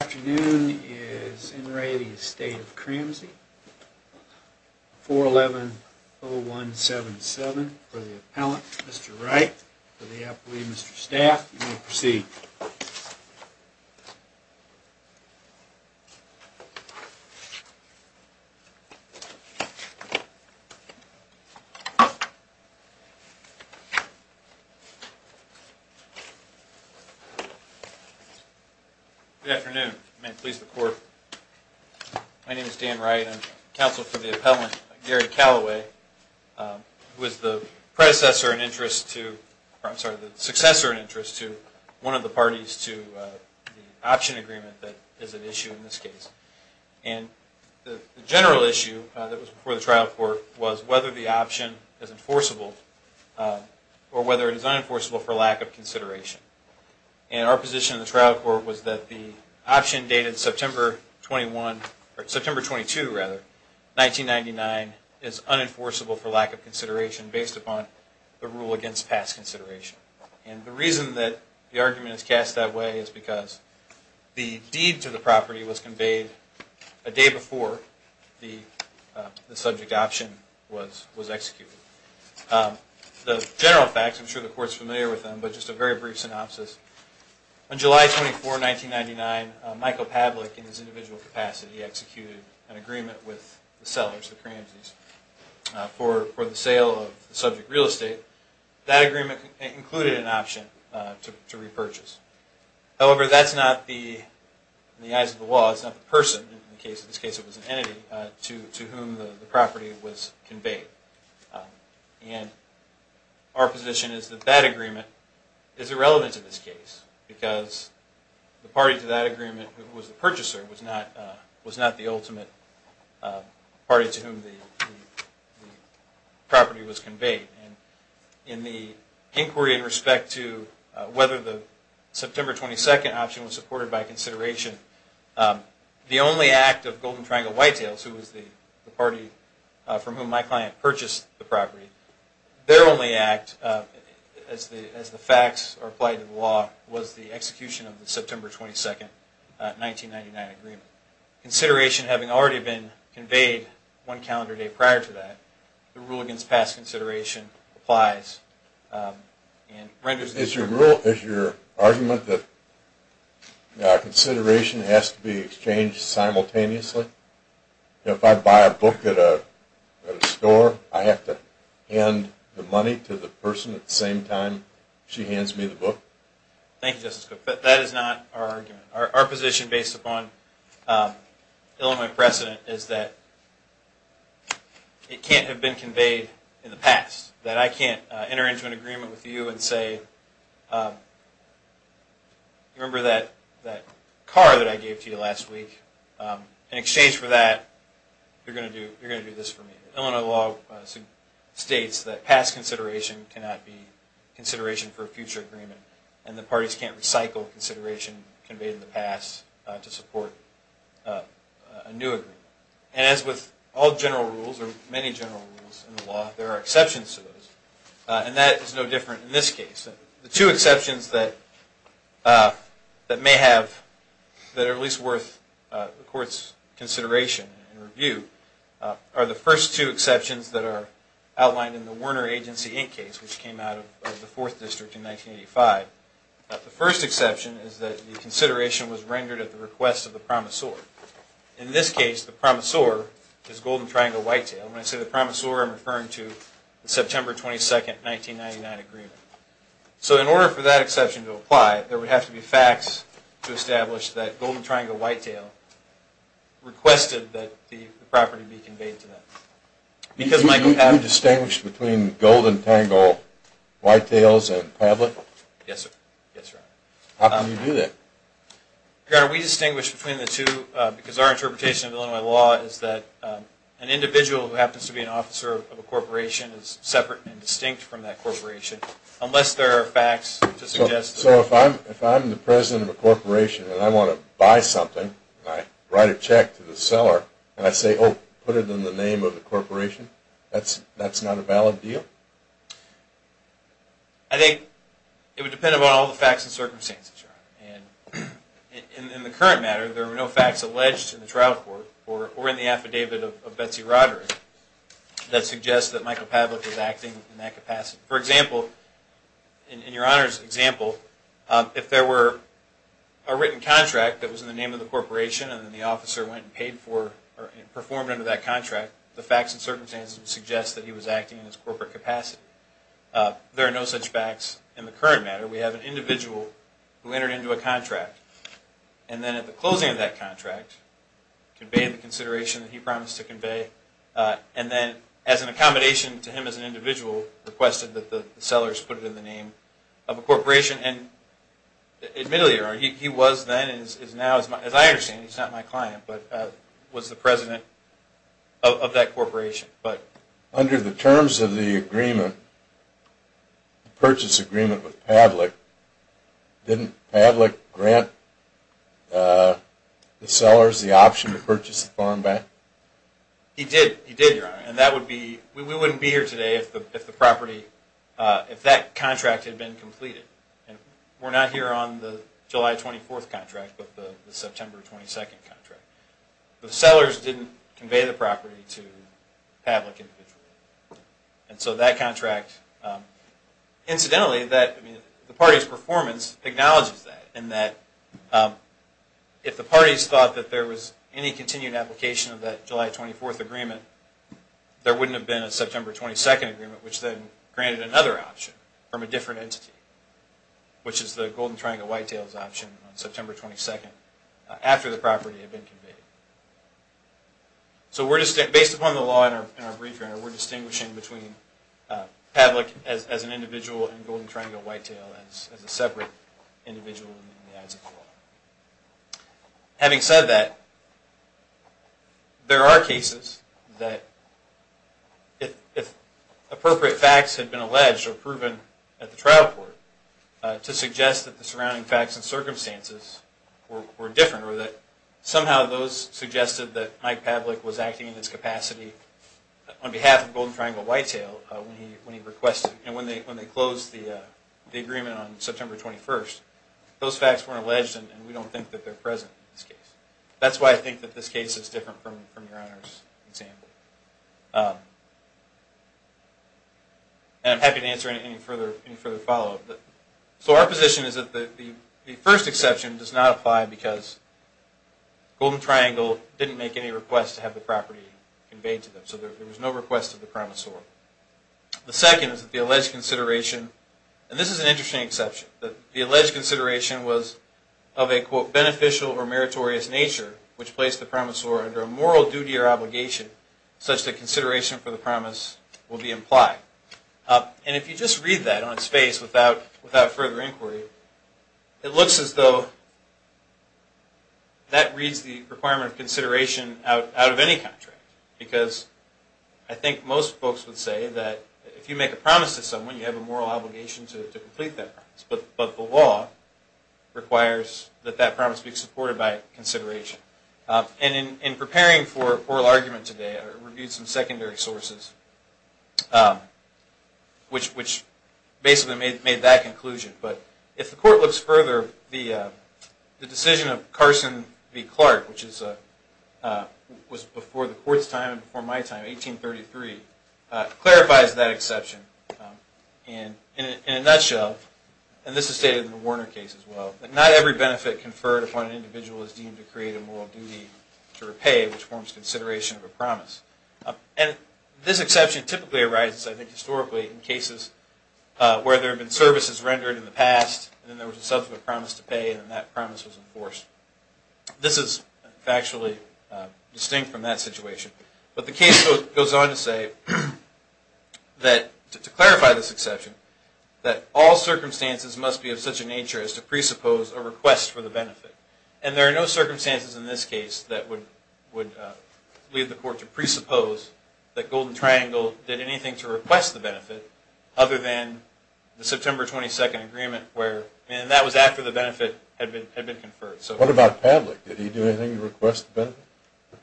Afternoon is in re the estate of Cramsey 411 0177 for the appellant. Mr. Wright for the appellee. Mr. Staff proceed Good afternoon. May it please the court. My name is Dan Wright. I'm counsel for the appellant, Gary Calloway, who is the predecessor in interest to, I'm sorry, the successor in interest to one of the parties to the Option Agreement that is at issue in this case. And the general issue that was before the trial court was whether the option is enforceable or whether it is unenforceable for lack of consideration. And our position in the trial court was that the option dated September 22, 1999, is unenforceable for lack of consideration based upon the rule against past consideration. And the reason that the argument is cast that way is because the deed to the property was conveyed a day before the subject option was executed. The general facts, I'm sure the court is familiar with them, but just a very brief synopsis. On July 24, 1999, Michael Pavlik, in his individual capacity, executed an agreement with the sellers, the Cramsies, for the sale of the subject real estate. That agreement included an option to repurchase. However, that's not the, in the eyes of the law, that's not the person, in this case it was an entity, to whom the property was conveyed. And our position is that that agreement is irrelevant to this case because the party to that agreement, who was the purchaser, was not the ultimate party to whom the property was conveyed. And in the inquiry in respect to whether the September 22 option was supported by consideration, the only act of Golden Triangle Whitetails, who was the party from whom my client purchased the property, their only act, as the facts are applied to the law, was the execution of the September 22, 1999 agreement. Consideration having already been conveyed one calendar day prior to that, the rule against past consideration applies. Is your argument that consideration has to be exchanged simultaneously? If I buy a book at a store, I have to hand the money to the person at the same time she hands me the book? Thank you, Justice Cook. But that is not our argument. Our position, based upon Illinois precedent, is that it can't have been conveyed in the past. That I can't enter into an agreement with you and say, remember that car that I gave to you last week? In exchange for that, you're going to do this for me. Illinois law states that past consideration cannot be consideration for a future agreement. And the parties can't recycle consideration conveyed in the past to support a new agreement. And as with all general rules, or many general rules in the law, there are exceptions to those. And that is no different in this case. The two exceptions that may have, that are at least worth the Court's consideration and review, are the first two exceptions that are outlined in the Werner Agency Inc. case, which came out of the 4th District in 1985. The first exception is that the consideration was rendered at the request of the promisor. In this case, the promisor is Golden Triangle Whitetail. When I say the promisor, I'm referring to the September 22nd, 1999 agreement. So in order for that exception to apply, there would have to be facts to establish that Golden Triangle Whitetail requested that the property be conveyed to them. Do you distinguish between Golden Triangle Whitetails and Pavlik? Yes, sir. How can you do that? We distinguish between the two because our interpretation of Illinois law is that an individual who happens to be an officer of a corporation is separate and distinct from that corporation, unless there are facts to suggest that. So if I'm the president of a corporation and I want to buy something, and I write a check to the seller, and I say, oh, put it in the name of the corporation, that's not a valid deal? I think it would depend on all the facts and circumstances, Your Honor. And in the current matter, there were no facts alleged in the trial court or in the affidavit of Betsy Roderick that suggest that Michael Pavlik was acting in that capacity. For example, in Your Honor's example, if there were a written contract that was in the name of the corporation and the officer went and paid for or performed under that contract, the facts and circumstances would suggest that he was acting in his corporate capacity. There are no such facts in the current matter. We have an individual who entered into a contract, and then at the closing of that contract, conveyed the consideration that he promised to convey, and then as an accommodation to him as an individual, requested that the sellers put it in the name of a corporation. And admittedly, Your Honor, he was then and is now, as I understand, he's not my client, but was the president of that corporation. Under the terms of the agreement, the purchase agreement with Pavlik, didn't Pavlik grant the sellers the option to purchase the farm back? He did, Your Honor, and we wouldn't be here today if that contract had been completed. We're not here on the July 24th contract, but the September 22nd contract. The sellers didn't convey the property to Pavlik. And so that contract, incidentally, the party's performance acknowledges that, and that if the parties thought that there was any continued application of that July 24th agreement, there wouldn't have been a September 22nd agreement, which then granted another option from a different entity, which is the Golden Triangle Whitetails option on September 22nd, after the property had been conveyed. So based upon the law in our brief, Your Honor, we're distinguishing between Pavlik as an individual and Golden Triangle Whitetail as a separate individual in the eyes of the law. Having said that, there are cases that, if appropriate facts had been alleged or proven at the trial court, to suggest that the surrounding facts and circumstances were different, or that somehow those suggested that Mike Pavlik was acting in his capacity on behalf of Golden Triangle Whitetail when he requested, and when they closed the agreement on September 21st. Those facts weren't alleged, and we don't think that they're present in this case. That's why I think that this case is different from Your Honor's example. And I'm happy to answer any further follow-up. So our position is that the first exception does not apply because Golden Triangle didn't make any requests to have the property conveyed to them, so there was no request to the promissory. The second is that the alleged consideration, and this is an interesting exception, that the alleged consideration was of a, quote, beneficial or meritorious nature, which placed the promissory under a moral duty or obligation such that consideration for the promise will be implied. And if you just read that on its face without further inquiry, it looks as though that reads the requirement of consideration out of any contract, because I think most folks would say that if you make a promise to someone, you have a moral obligation to complete that promise, but the law requires that that promise be supported by consideration. And in preparing for oral argument today, I reviewed some secondary sources, which basically made that conclusion, but if the Court looks further, the decision of Carson v. Clark, which was before the Court's time and before my time, 1833, clarifies that exception. And in a nutshell, and this is stated in the Warner case as well, that not every benefit conferred upon an individual is deemed to create a moral duty to repay, which forms consideration of a promise. And this exception typically arises, I think, historically in cases where there have been services rendered in the past, and then there was a subsequent promise to pay, and then that promise was enforced. This is factually distinct from that situation, but the case goes on to say that, to clarify this exception, that all circumstances must be of such a nature as to presuppose a request for the benefit. And there are no circumstances in this case that would lead the Court to presuppose that Golden Triangle did anything to request the benefit other than the September 22nd agreement, and that was after the benefit had been conferred. What about Pavlik? Did he do anything to request the benefit?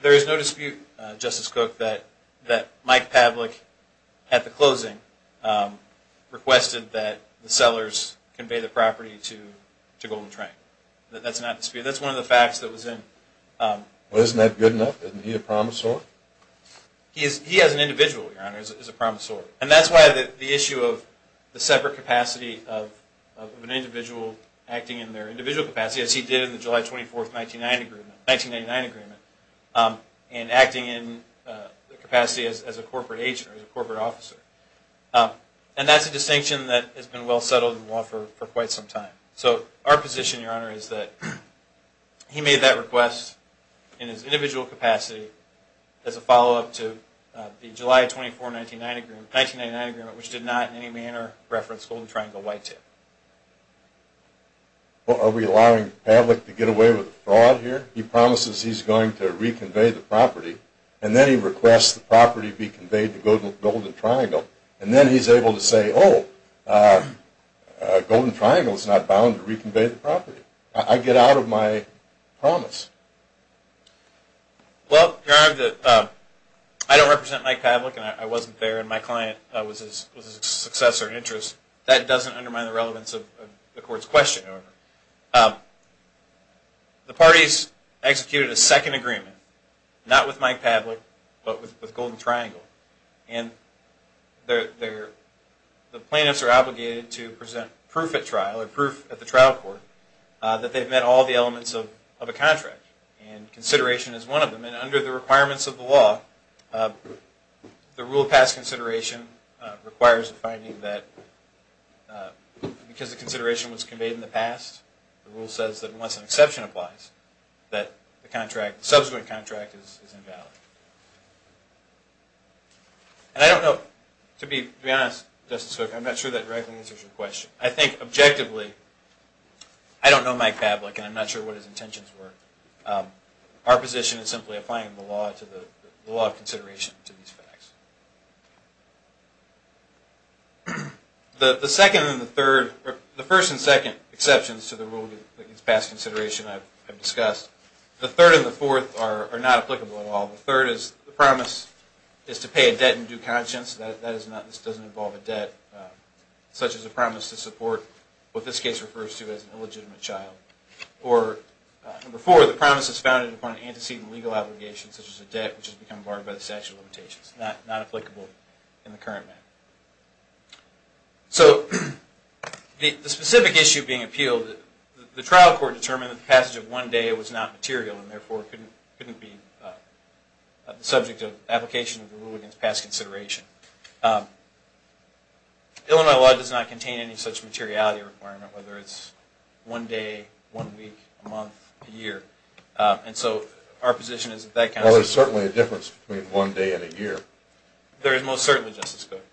There is no dispute, Justice Cook, that Mike Pavlik, at the closing, requested that the sellers convey the property to Golden Triangle. That's not disputed. That's one of the facts that was in... Well, isn't that good enough? Isn't he a promisor? He is. He as an individual, Your Honor, is a promisor. And that's why the issue of the separate capacity of an individual acting in their individual capacity, as he did in the July 24th 1999 agreement, and acting in the capacity as a corporate agent or as a corporate officer. And that's a distinction that has been well settled in law for quite some time. So our position, Your Honor, is that he made that request in his individual capacity as a follow-up to the July 24th 1999 agreement, which did not in any manner reference Golden Triangle Y2. Well, are we allowing Pavlik to get away with a fraud here? He promises he's going to reconvey the property, and then he requests the property be conveyed to Golden Triangle, and then he's able to say, oh, Golden Triangle is not bounded to Y2. Well, Your Honor, I don't represent Mike Pavlik, and I wasn't there, and my client was his successor in interest. That doesn't undermine the relevance of the Court's question, however. The parties executed a second agreement, not with Mike Pavlik, but with Golden Triangle. And the plaintiffs are obligated to present proof at trial, or proof at the trial court, that they've met all the elements of a contract. And consideration is one of them. And under the requirements of the law, the rule of past consideration requires a finding that because the consideration was conveyed in the past, the rule says that once an exception applies, that the subsequent contract is invalid. And I don't know, to be honest, Justice Cook, I'm not sure that directly answers your question. I think objectively, I don't know Mike Pavlik, and I'm not sure what his intentions were. Our position is simply applying the law of consideration to these facts. The second and the third, or the first and second exceptions to the rule of past consideration I've discussed, the third and the fourth are not applicable at all. The third is, the promise is to pay a debt in due conscience. That is not, this doesn't involve a debt, such as a promise to support what this case refers to as an illegitimate child. Or, number four, the promise is founded upon an antecedent legal obligation, such as a debt, which has become barred by the statute of limitations. Not applicable in the current manner. So, the specific issue being appealed, the trial court determined that the passage of one day was not material, and therefore couldn't be appealed. The subject of application of the rule against past consideration. Illinois law does not contain any such materiality requirement, whether it's one day, one week, a month, a year. And so, our position is that that kind of... Well, there's certainly a difference between one day and a year. There is most certainly, Justice Cook.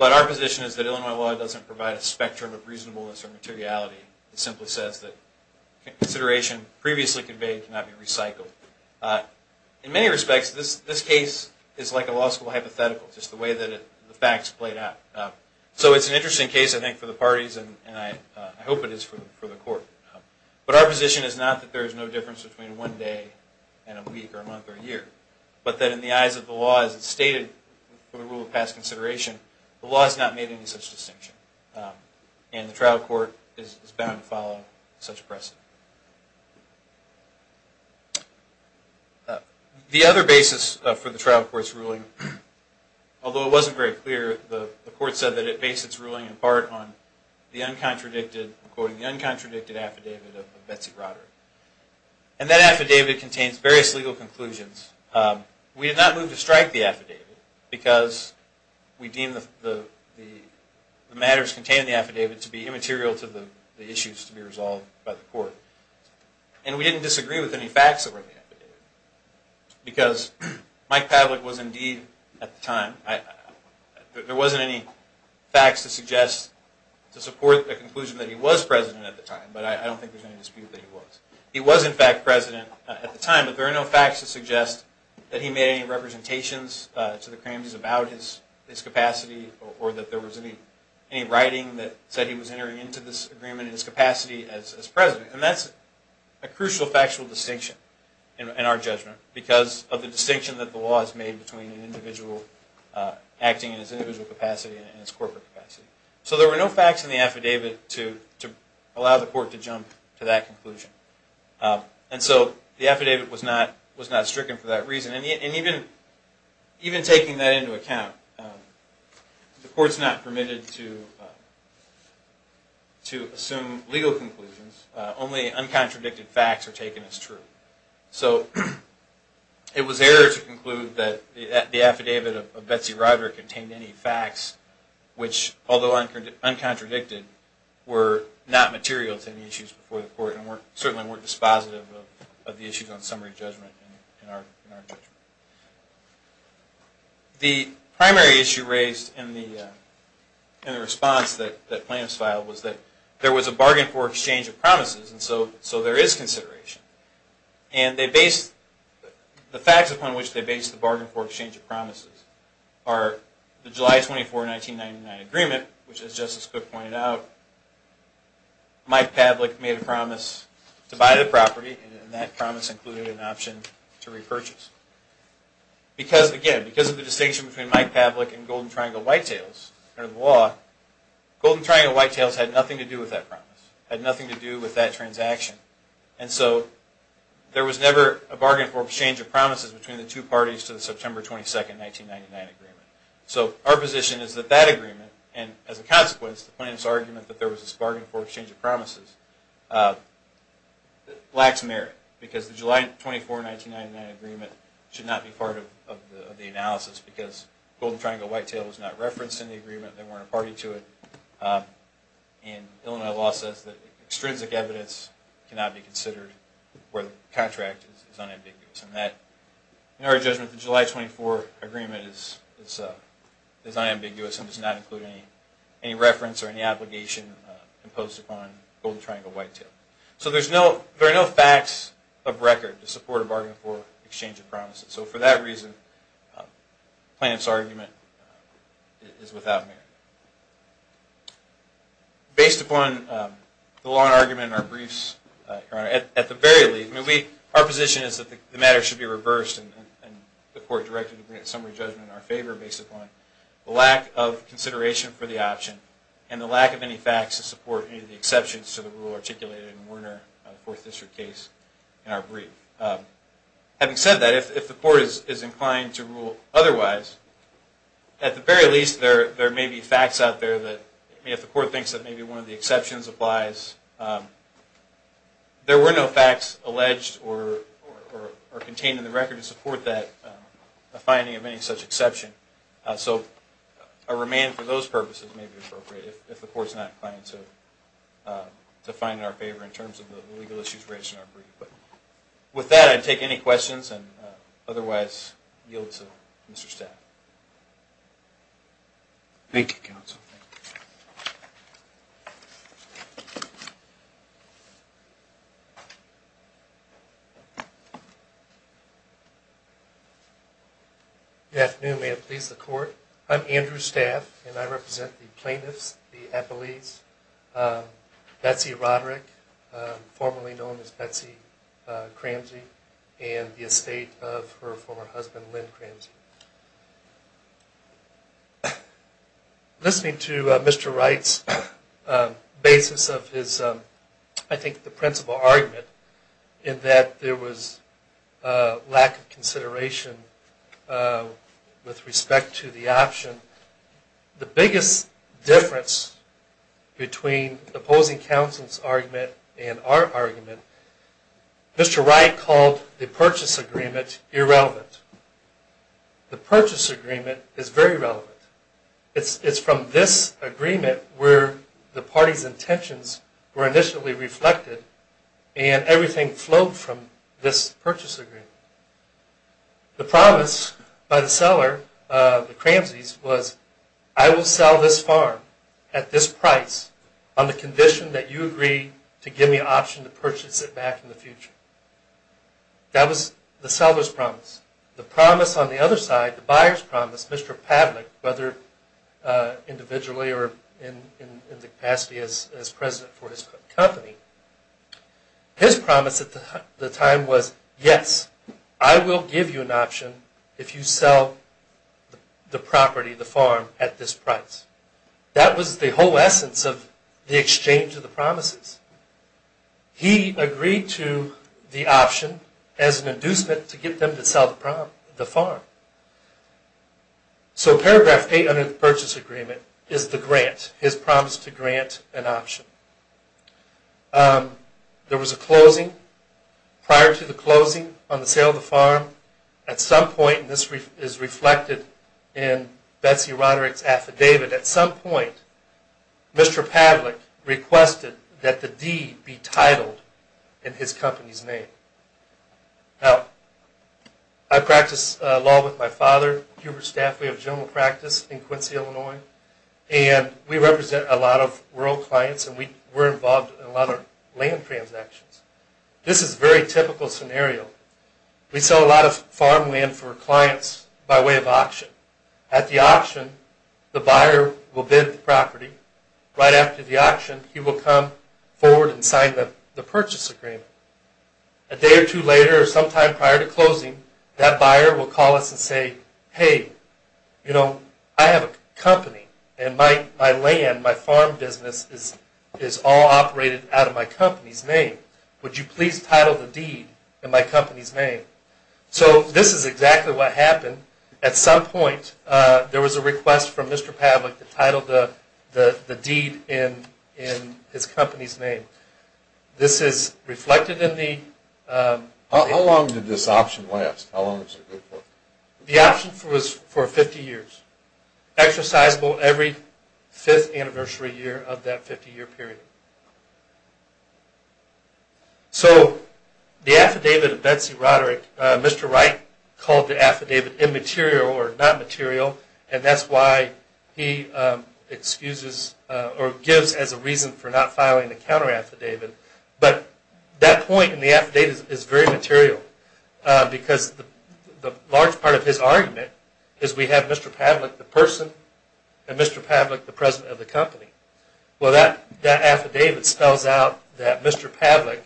But our position is that Illinois law doesn't provide a spectrum of reasonableness or materiality. It simply says that consideration previously conveyed cannot be recycled. In many respects, this case is like a law school hypothetical, just the way that the facts played out. So, it's an interesting case, I think, for the parties, and I hope it is for the court. But our position is not that there is no difference between one day and a week or a month or a year. But that in the eyes of the law, as it's stated in the rule of past consideration, the law has not made any such distinction. And the trial court is bound to follow such precedent. The other basis for the trial court's ruling, although it wasn't very clear, the court said that it based its ruling in part on the uncontradicted affidavit of Betsy Broderick. And that affidavit contains various legal conclusions. We did not move to strike the affidavit, because we deemed the matters contained in the affidavit to be immaterial to the issues to be resolved by the court. And we didn't disagree with any facts that were in the affidavit. Because Mike Pavlik was indeed, at the time, there wasn't any facts to suggest, to support the conclusion that he was president at the time, but I don't think there's any dispute that he was. He was, in fact, president at the time, but there are no facts to suggest that he made any representations to the Kramjies about his capacity, or that there was any writing that said he was entering into this agreement in his capacity as president. And that's a crucial factual distinction in our judgment, because of the distinction that the law has made between an individual acting in his individual capacity and his corporate capacity. So there were no facts in the affidavit to allow the court to jump to that conclusion. And so the affidavit was not stricken for that reason. And even taking that into account, the court's not permitted to assume legal conclusions. Only uncontradicted facts are taken as true. So it was error to conclude that the affidavit of Betsy Ryder contained any facts, which, although uncontradicted, were not material to the issues before the court, and certainly weren't dispositive of the issues on summary judgment in our judgment. The primary issue raised in the response that plaintiffs filed was that there was a bargain for exchange of promises, and so there is consideration. And the facts upon which they based the bargain for exchange of promises are the July 24, 1999 agreement, which, as Justice Cook pointed out, Mike Pavlik made a promise to buy the property, and that promise included an option to repurchase. Because, again, because of the distinction between Mike Pavlik and Golden Triangle Whitetails under the law, Golden Triangle Whitetails had nothing to do with that promise, had nothing to do with that transaction. And so there was never a bargain for exchange of promises between the two parties to the September 22, 1999 agreement. So our position is that that agreement, and as a consequence, the plaintiffs' argument that there was this bargain for exchange of promises, lacks merit, because the July 24, 1999 agreement should not be part of the analysis, because Golden Triangle Whitetails was not referenced in the agreement, they weren't a party to it, and Illinois law says that extrinsic evidence cannot be considered where the contract is unambiguous. In our judgment, the July 24 agreement is unambiguous and does not include any reference or any obligation imposed upon Golden Triangle Whitetails. So there are no facts of record to support a bargain for exchange of promises. So for that reason, the plaintiffs' argument is without merit. Based upon the law and argument in our briefs, Your Honor, at the very least, our position is that the matter should be reversed and the court directed to bring a summary judgment in our favor based upon the lack of consideration for the option and the lack of any facts to support any of the exceptions to the rule articulated in the Werner Fourth District case in our brief. Having said that, if the court is inclined to rule otherwise, at the very least, there may be facts out there that, if the court thinks that maybe one of the exceptions applies, there were no facts alleged or contained in the record to support the finding of any such exception. So a remand for those purposes may be appropriate if the court is not inclined to find it in our favor in terms of the legal issues raised in our brief. With that, I'd take any questions and otherwise yield to Mr. Staff. Thank you, counsel. Good afternoon. May it please the court. I'm Andrew Staff, and I represent the plaintiffs, the appellees, Betsy Roderick, formerly known as Betsy Cramsey, and the estate of her former husband, Lynn Cramsey. Listening to Mr. Wright's basis of his, I think, the principle argument in that there was a lack of consideration with respect to the option, the biggest difference between the opposing counsel's argument and our argument, Mr. Wright called the purchase agreement irrelevant. The purchase agreement is very relevant. It's from this agreement where the party's intentions were initially reflected and everything flowed from this purchase agreement. The promise by the seller, the Cramseys, was, I will sell this farm at this price on the condition that you agree to give me an option to purchase it back in the future. That was the seller's promise. The promise on the other side, the buyer's promise, Mr. Pavlik, whether individually or in the capacity as president for his company, his promise at the time was, yes, I will give you an option if you sell the property, the farm, at this price. That was the whole essence of the exchange of the promises. He agreed to the option as an inducement to get them to sell the farm. So paragraph 800 of the purchase agreement is the grant, his promise to grant an option. There was a closing. Prior to the closing on the sale of the farm, at some point, and this is reflected in Betsy Roderick's affidavit, at some point, Mr. Pavlik requested that the D be titled in his company's name. I practice law with my father, Hubert Staffley of general practice in Quincy, Illinois, and we represent a lot of rural clients and we're involved in a lot of land transactions. This is a very typical scenario. We sell a lot of farmland for clients by way of auction. At the auction, the buyer will bid the property. Right after the auction, he will come forward and sign the purchase agreement. A day or two later or sometime prior to closing, that buyer will call us and say, hey, you know, I have a company and my land, my farm business, is all operated out of my company's name. This is exactly what happened. At some point, there was a request from Mr. Pavlik to title the D in his company's name. This is reflected in the... How long did this option last? The option was for 50 years, exercisable every fifth anniversary year of that 50-year period. The affidavit of Betsy Roderick, Mr. Wright called the affidavit immaterial or not material, and that's why he gives as a reason for not filing the counter affidavit. But that point in the affidavit is very material because the large part of his argument is we have Mr. Pavlik, the person, and Mr. Pavlik, the president of the company. Well, that affidavit spells out that Mr. Pavlik,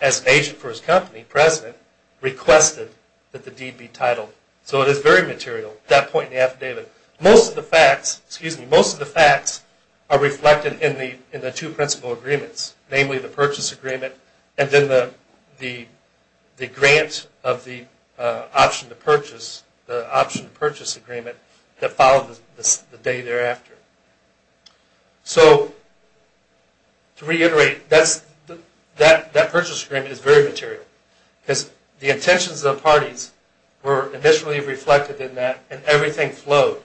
as an agent for his company, president, requested that the D be titled. So it is very material, that point in the affidavit. Most of the facts are reflected in the two principal agreements, namely the purchase agreement and then the grant of the option to purchase, that followed the day thereafter. So to reiterate, that purchase agreement is very material because the intentions of the parties were initially reflected in that and everything flowed.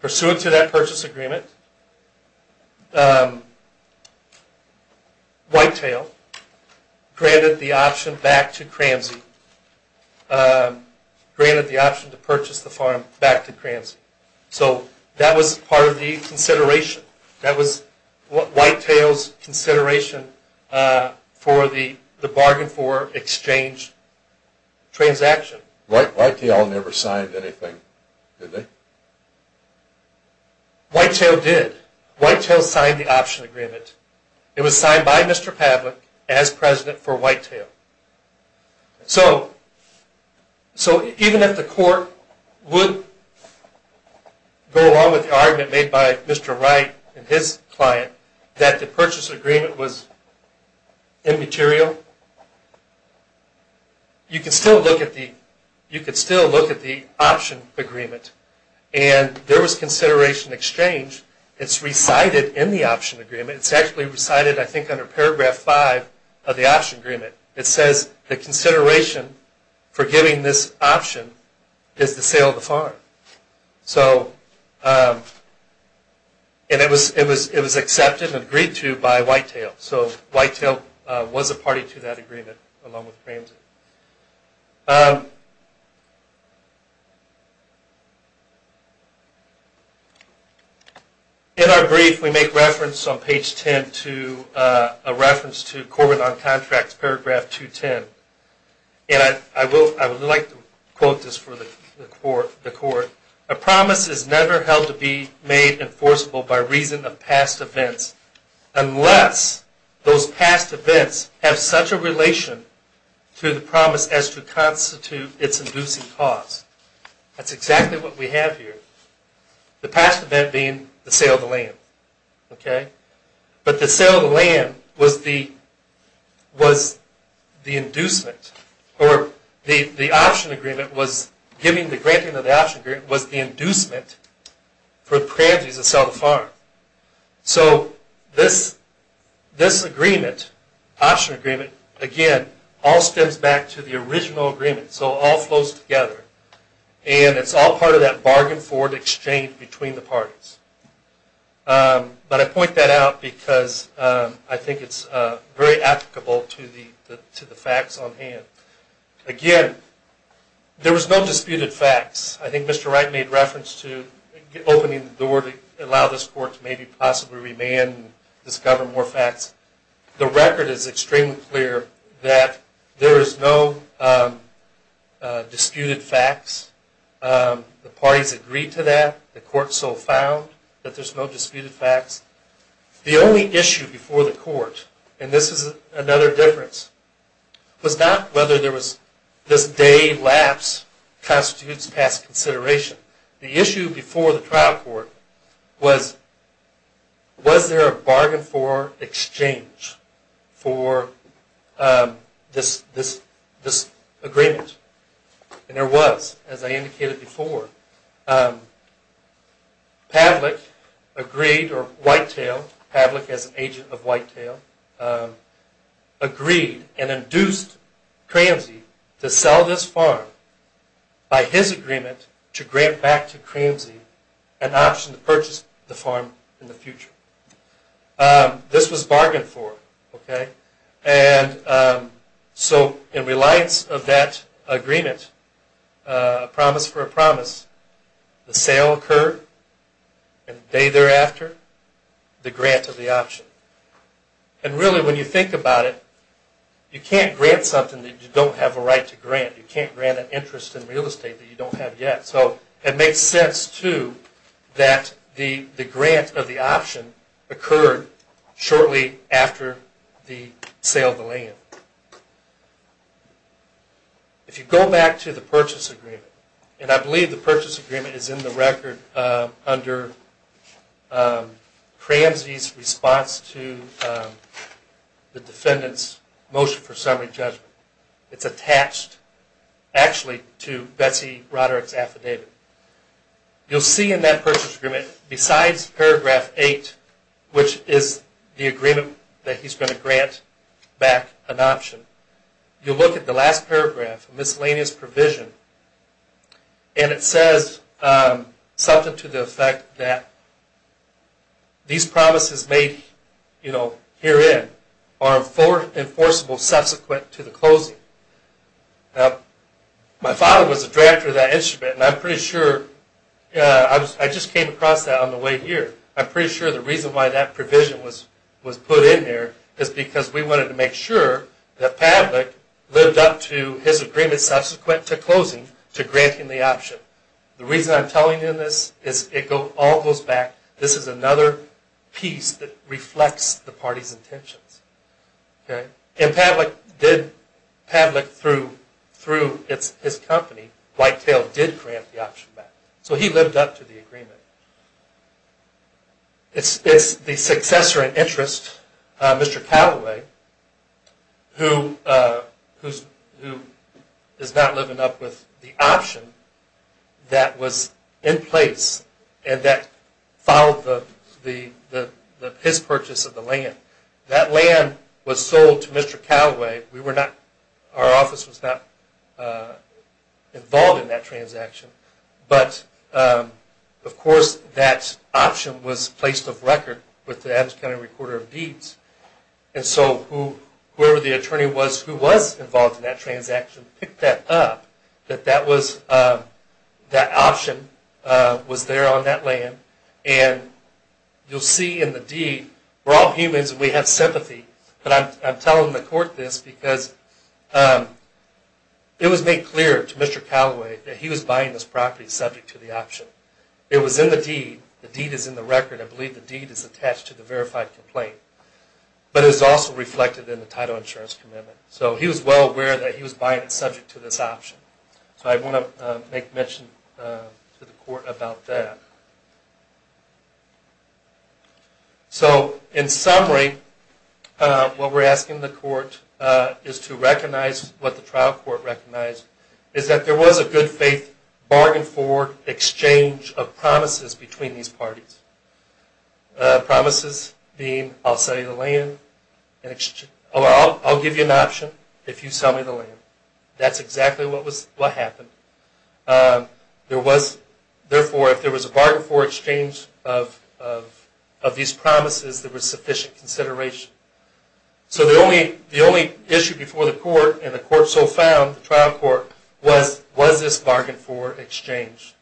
Pursuant to that purchase agreement, Whitetail granted the option back to Cramsey, granted the option to purchase the farm back to Cramsey. So that was part of the consideration. That was Whitetail's consideration for the bargain for exchange transaction. Whitetail never signed anything, did they? Whitetail did. Whitetail signed the option agreement. It was signed by Mr. Pavlik as president for Whitetail. So even if the court would go along with the argument made by Mr. Wright and his client that the purchase agreement was immaterial, you could still look at the option agreement. And there was consideration of exchange. It's recited in the option agreement. It's actually recited, I think, under Paragraph 5 of the option agreement. It says the consideration for giving this option is the sale of the farm. And it was accepted and agreed to by Whitetail. So Whitetail was a party to that agreement along with Cramsey. Thank you. In our brief, we make reference on page 10 to a reference to Corbin on Contracts, Paragraph 210. And I would like to quote this for the court. A promise is never held to be made enforceable by reason of past events, unless those past events have such a relation to the promise as to constitute its inducing cause. That's exactly what we have here, the past event being the sale of the land. Okay? But the sale of the land was the inducement, or the option agreement was giving the granting of the option agreement was the inducement for Cramsey to sell the farm. So this agreement, option agreement, again, all stems back to the original agreement. So it all flows together. And it's all part of that bargain forward exchange between the parties. But I point that out because I think it's very applicable to the facts on hand. Again, there was no disputed facts. I think Mr. Wright made reference to opening the door to allow this court to maybe possibly remand and discover more facts. The record is extremely clear that there is no disputed facts. The parties agreed to that. The court so found that there's no disputed facts. The only issue before the court, and this is another difference, was not whether there was this day lapse constitutes past consideration. The issue before the trial court was, was there a bargain forward exchange for this agreement? And there was, as I indicated before. Pavlik agreed, or Whitetail, Pavlik as agent of Whitetail, agreed and induced Cramsey to sell this farm by his agreement to grant back to Cramsey an option to purchase the farm in the future. This was bargained for, okay? And so in reliance of that agreement, a promise for a promise, the sale occurred, and the day thereafter, the grant of the option. And really when you think about it, you can't grant something that you don't have a right to grant. You can't grant an interest in real estate that you don't have yet. So it makes sense, too, that the grant of the option occurred shortly after the sale of the land. If you go back to the purchase agreement, and I believe the purchase agreement is in the record under Cramsey's response to the defendant's motion for summary judgment. It's attached, actually, to Betsy Roderick's affidavit. You'll see in that purchase agreement, besides paragraph 8, which is the agreement that he's going to grant back an option, you'll look at the last paragraph, miscellaneous provision, and it says something to the effect that these promises made herein are enforceable subsequent to the closing. My father was a drafter of that instrument, and I'm pretty sure, I just came across that on the way here. I'm pretty sure the reason why that provision was put in here is because we wanted to make sure that Pavlik lived up to his agreement subsequent to closing to granting the option. The reason I'm telling you this is it all goes back. This is another piece that reflects the party's intentions. Pavlik, through his company, Whitetail, did grant the option back. So he lived up to the agreement. It's the successor in interest, Mr. Callaway, who is not living up with the option that was in place and that followed his purchase of the land. That land was sold to Mr. Callaway. Our office was not involved in that transaction, but, of course, that option was placed off record with the Adams County Recorder of Deeds. And so whoever the attorney was who was involved in that transaction picked that up, that that option was there on that land. And you'll see in the deed, we're all humans and we have sympathy, but I'm telling the court this because it was made clear to Mr. Callaway that he was buying this property subject to the option. It was in the deed. The deed is in the record. I believe the deed is attached to the verified complaint, but it was also reflected in the title insurance commitment. So he was well aware that he was buying it subject to this option. So I want to make mention to the court about that. So in summary, what we're asking the court is to recognize what the trial court recognized is that there was a good faith bargain-forward exchange of promises between these parties. Promises being I'll sell you the land and I'll give you an option if you sell me the land. That's exactly what happened. Therefore, if there was a bargain-forward exchange of these promises, there was sufficient consideration. So the only issue before the court and the court so found, the trial court, was this bargain-forward exchange.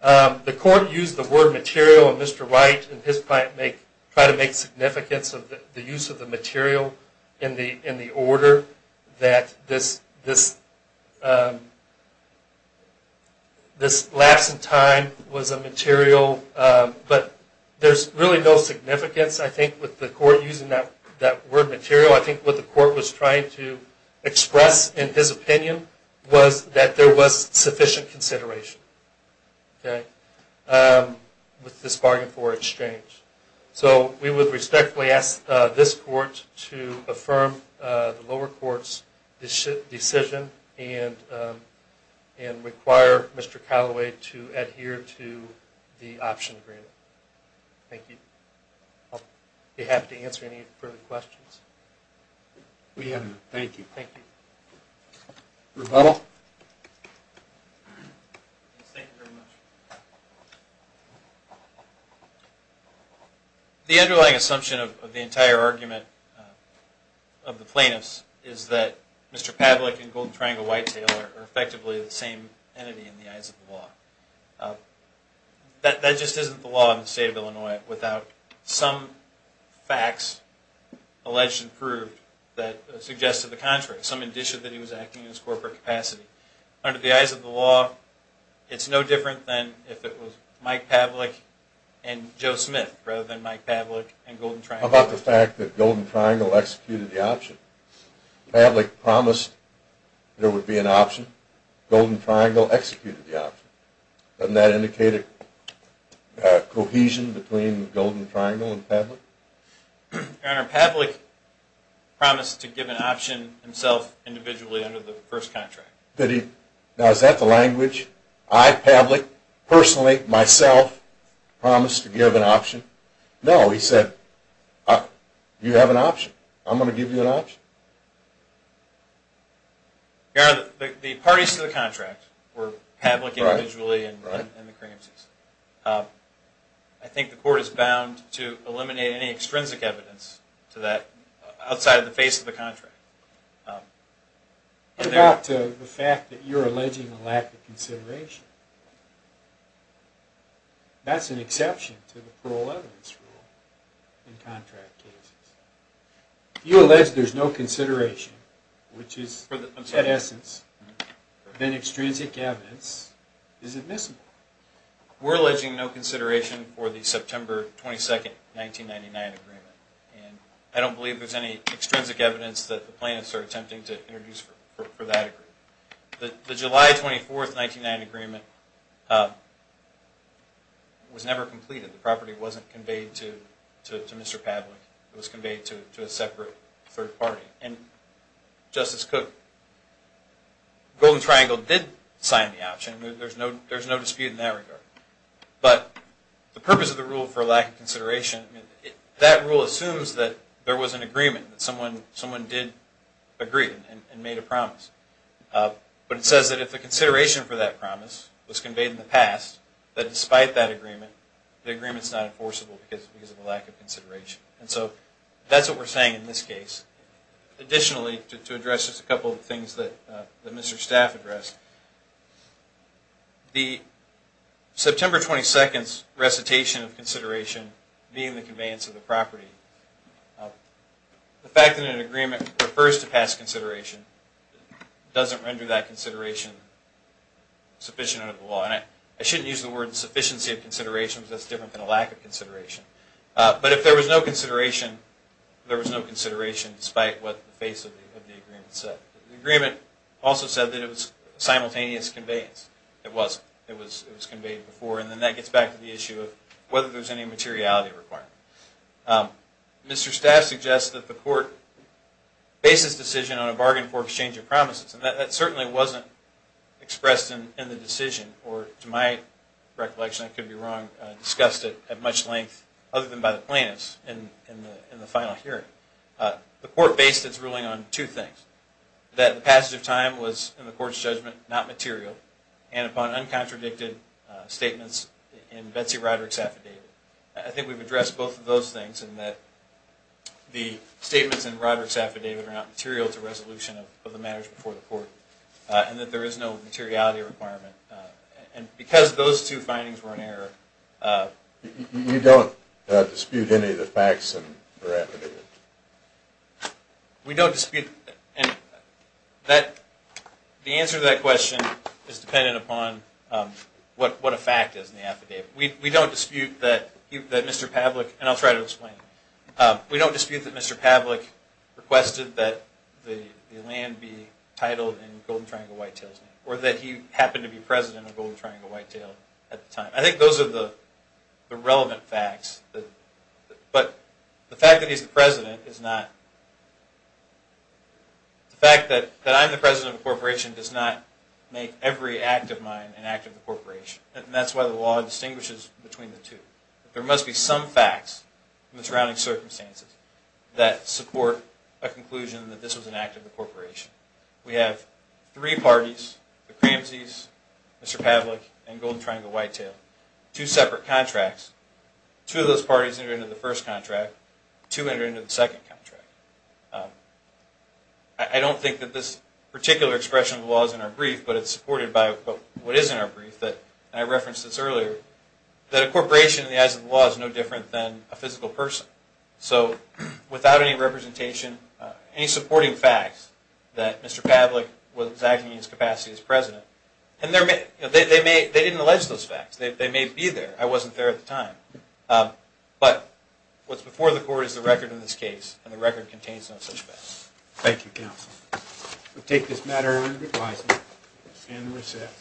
The court used the word material, and Mr. Wright and his client tried to make significance of the use of the material in the order that this lapse in time was a material. But there's really no significance, I think, with the court using that word material. I think what the court was trying to express in his opinion was that there was sufficient consideration with this bargain-forward exchange. So we would respectfully ask this court to affirm the lower court's decision and require Mr. Callaway to adhere to the option agreement. Thank you. I'll be happy to answer any further questions. We have none. Thank you. Thank you. Rebuttal. Thank you very much. The underlying assumption of the entire argument of the plaintiffs is that Mr. Pavlik and Golden Triangle Whitetail are effectively the same entity in the eyes of the law. That just isn't the law in the state of Illinois without some facts alleged and proved that suggest to the contrary, some indication that he was acting in his corporate capacity. Under the eyes of the law, it's no different than if it was Mike Pavlik and Joe Smith rather than Mike Pavlik and Golden Triangle Whitetail. How about the fact that Golden Triangle executed the option? Pavlik promised there would be an option. Golden Triangle executed the option. Doesn't that indicate a cohesion between Golden Triangle and Pavlik? Your Honor, Pavlik promised to give an option himself individually under the first contract. Now, is that the language? I, Pavlik, personally, myself, promised to give an option? No. He said, you have an option. I'm going to give you an option. Your Honor, the parties to the contract were Pavlik individually and the Kremses. I think the court is bound to eliminate any extrinsic evidence to that outside of the face of the contract. What about the fact that you're alleging a lack of consideration? That's an exception to the parole evidence rule in contract cases. You allege there's no consideration, which is, in essence, then extrinsic evidence is admissible. We're alleging no consideration for the September 22, 1999 agreement. I don't believe there's any extrinsic evidence that the plaintiffs are attempting to introduce for that agreement. The July 24, 1999 agreement was never completed. The property wasn't conveyed to Mr. Pavlik. It was conveyed to a separate third party. Justice Cook, Golden Triangle did sign the option. There's no dispute in that regard. But the purpose of the rule for lack of consideration, that rule assumes that there was an agreement, that someone did agree and made a promise. But it says that if the consideration for that promise was conveyed in the past, that despite that agreement, the agreement is not enforceable because of a lack of consideration. And so that's what we're saying in this case. Additionally, to address just a couple of things that Mr. Staff addressed, the September 22 recitation of consideration being the conveyance of the property, the fact that an agreement refers to past consideration doesn't render that consideration sufficient under the law. And I shouldn't use the word sufficiency of consideration because that's not sufficient. But if there was no consideration, there was no consideration, despite what the face of the agreement said. The agreement also said that it was simultaneous conveyance. It wasn't. It was conveyed before. And then that gets back to the issue of whether there's any materiality requirement. Mr. Staff suggests that the court bases the decision on a bargain for exchange of promises. And that certainly wasn't expressed in the decision, or to my recollection, I could be wrong, discussed at much length other than by the plaintiffs in the final hearing. The court based its ruling on two things. That the passage of time was, in the court's judgment, not material. And upon uncontradicted statements in Betsy Roderick's affidavit. I think we've addressed both of those things in that the statements in Roderick's affidavit are not material to resolution of the matters before the court. And that there is no materiality requirement. And because those two findings were in error. You don't dispute any of the facts in her affidavit? We don't dispute. The answer to that question is dependent upon what a fact is in the affidavit. We don't dispute that Mr. Pavlik, and I'll try to explain. We don't dispute that Mr. Pavlik requested that the land be titled in the name of the president of Golden Triangle Whitetail at the time. I think those are the relevant facts. But the fact that he's the president is not. The fact that I'm the president of a corporation does not make every act of mine an act of the corporation. And that's why the law distinguishes between the two. There must be some facts in the surrounding circumstances that support a conclusion that this was an act of the corporation. We have three parties, the Cramsies, Mr. Pavlik, and Golden Triangle Whitetail. Two separate contracts. Two of those parties entered into the first contract. Two entered into the second contract. I don't think that this particular expression of the law is in our brief, but it's supported by what is in our brief. And I referenced this earlier. That a corporation in the eyes of the law is no different than a physical person. So without any representation, any supporting facts, that Mr. Pavlik was acting in his capacity as president. And they didn't allege those facts. They may be there. I wasn't there at the time. But what's before the court is the record in this case, and the record contains no such facts. Thank you, counsel. We'll take this matter under revising and recess.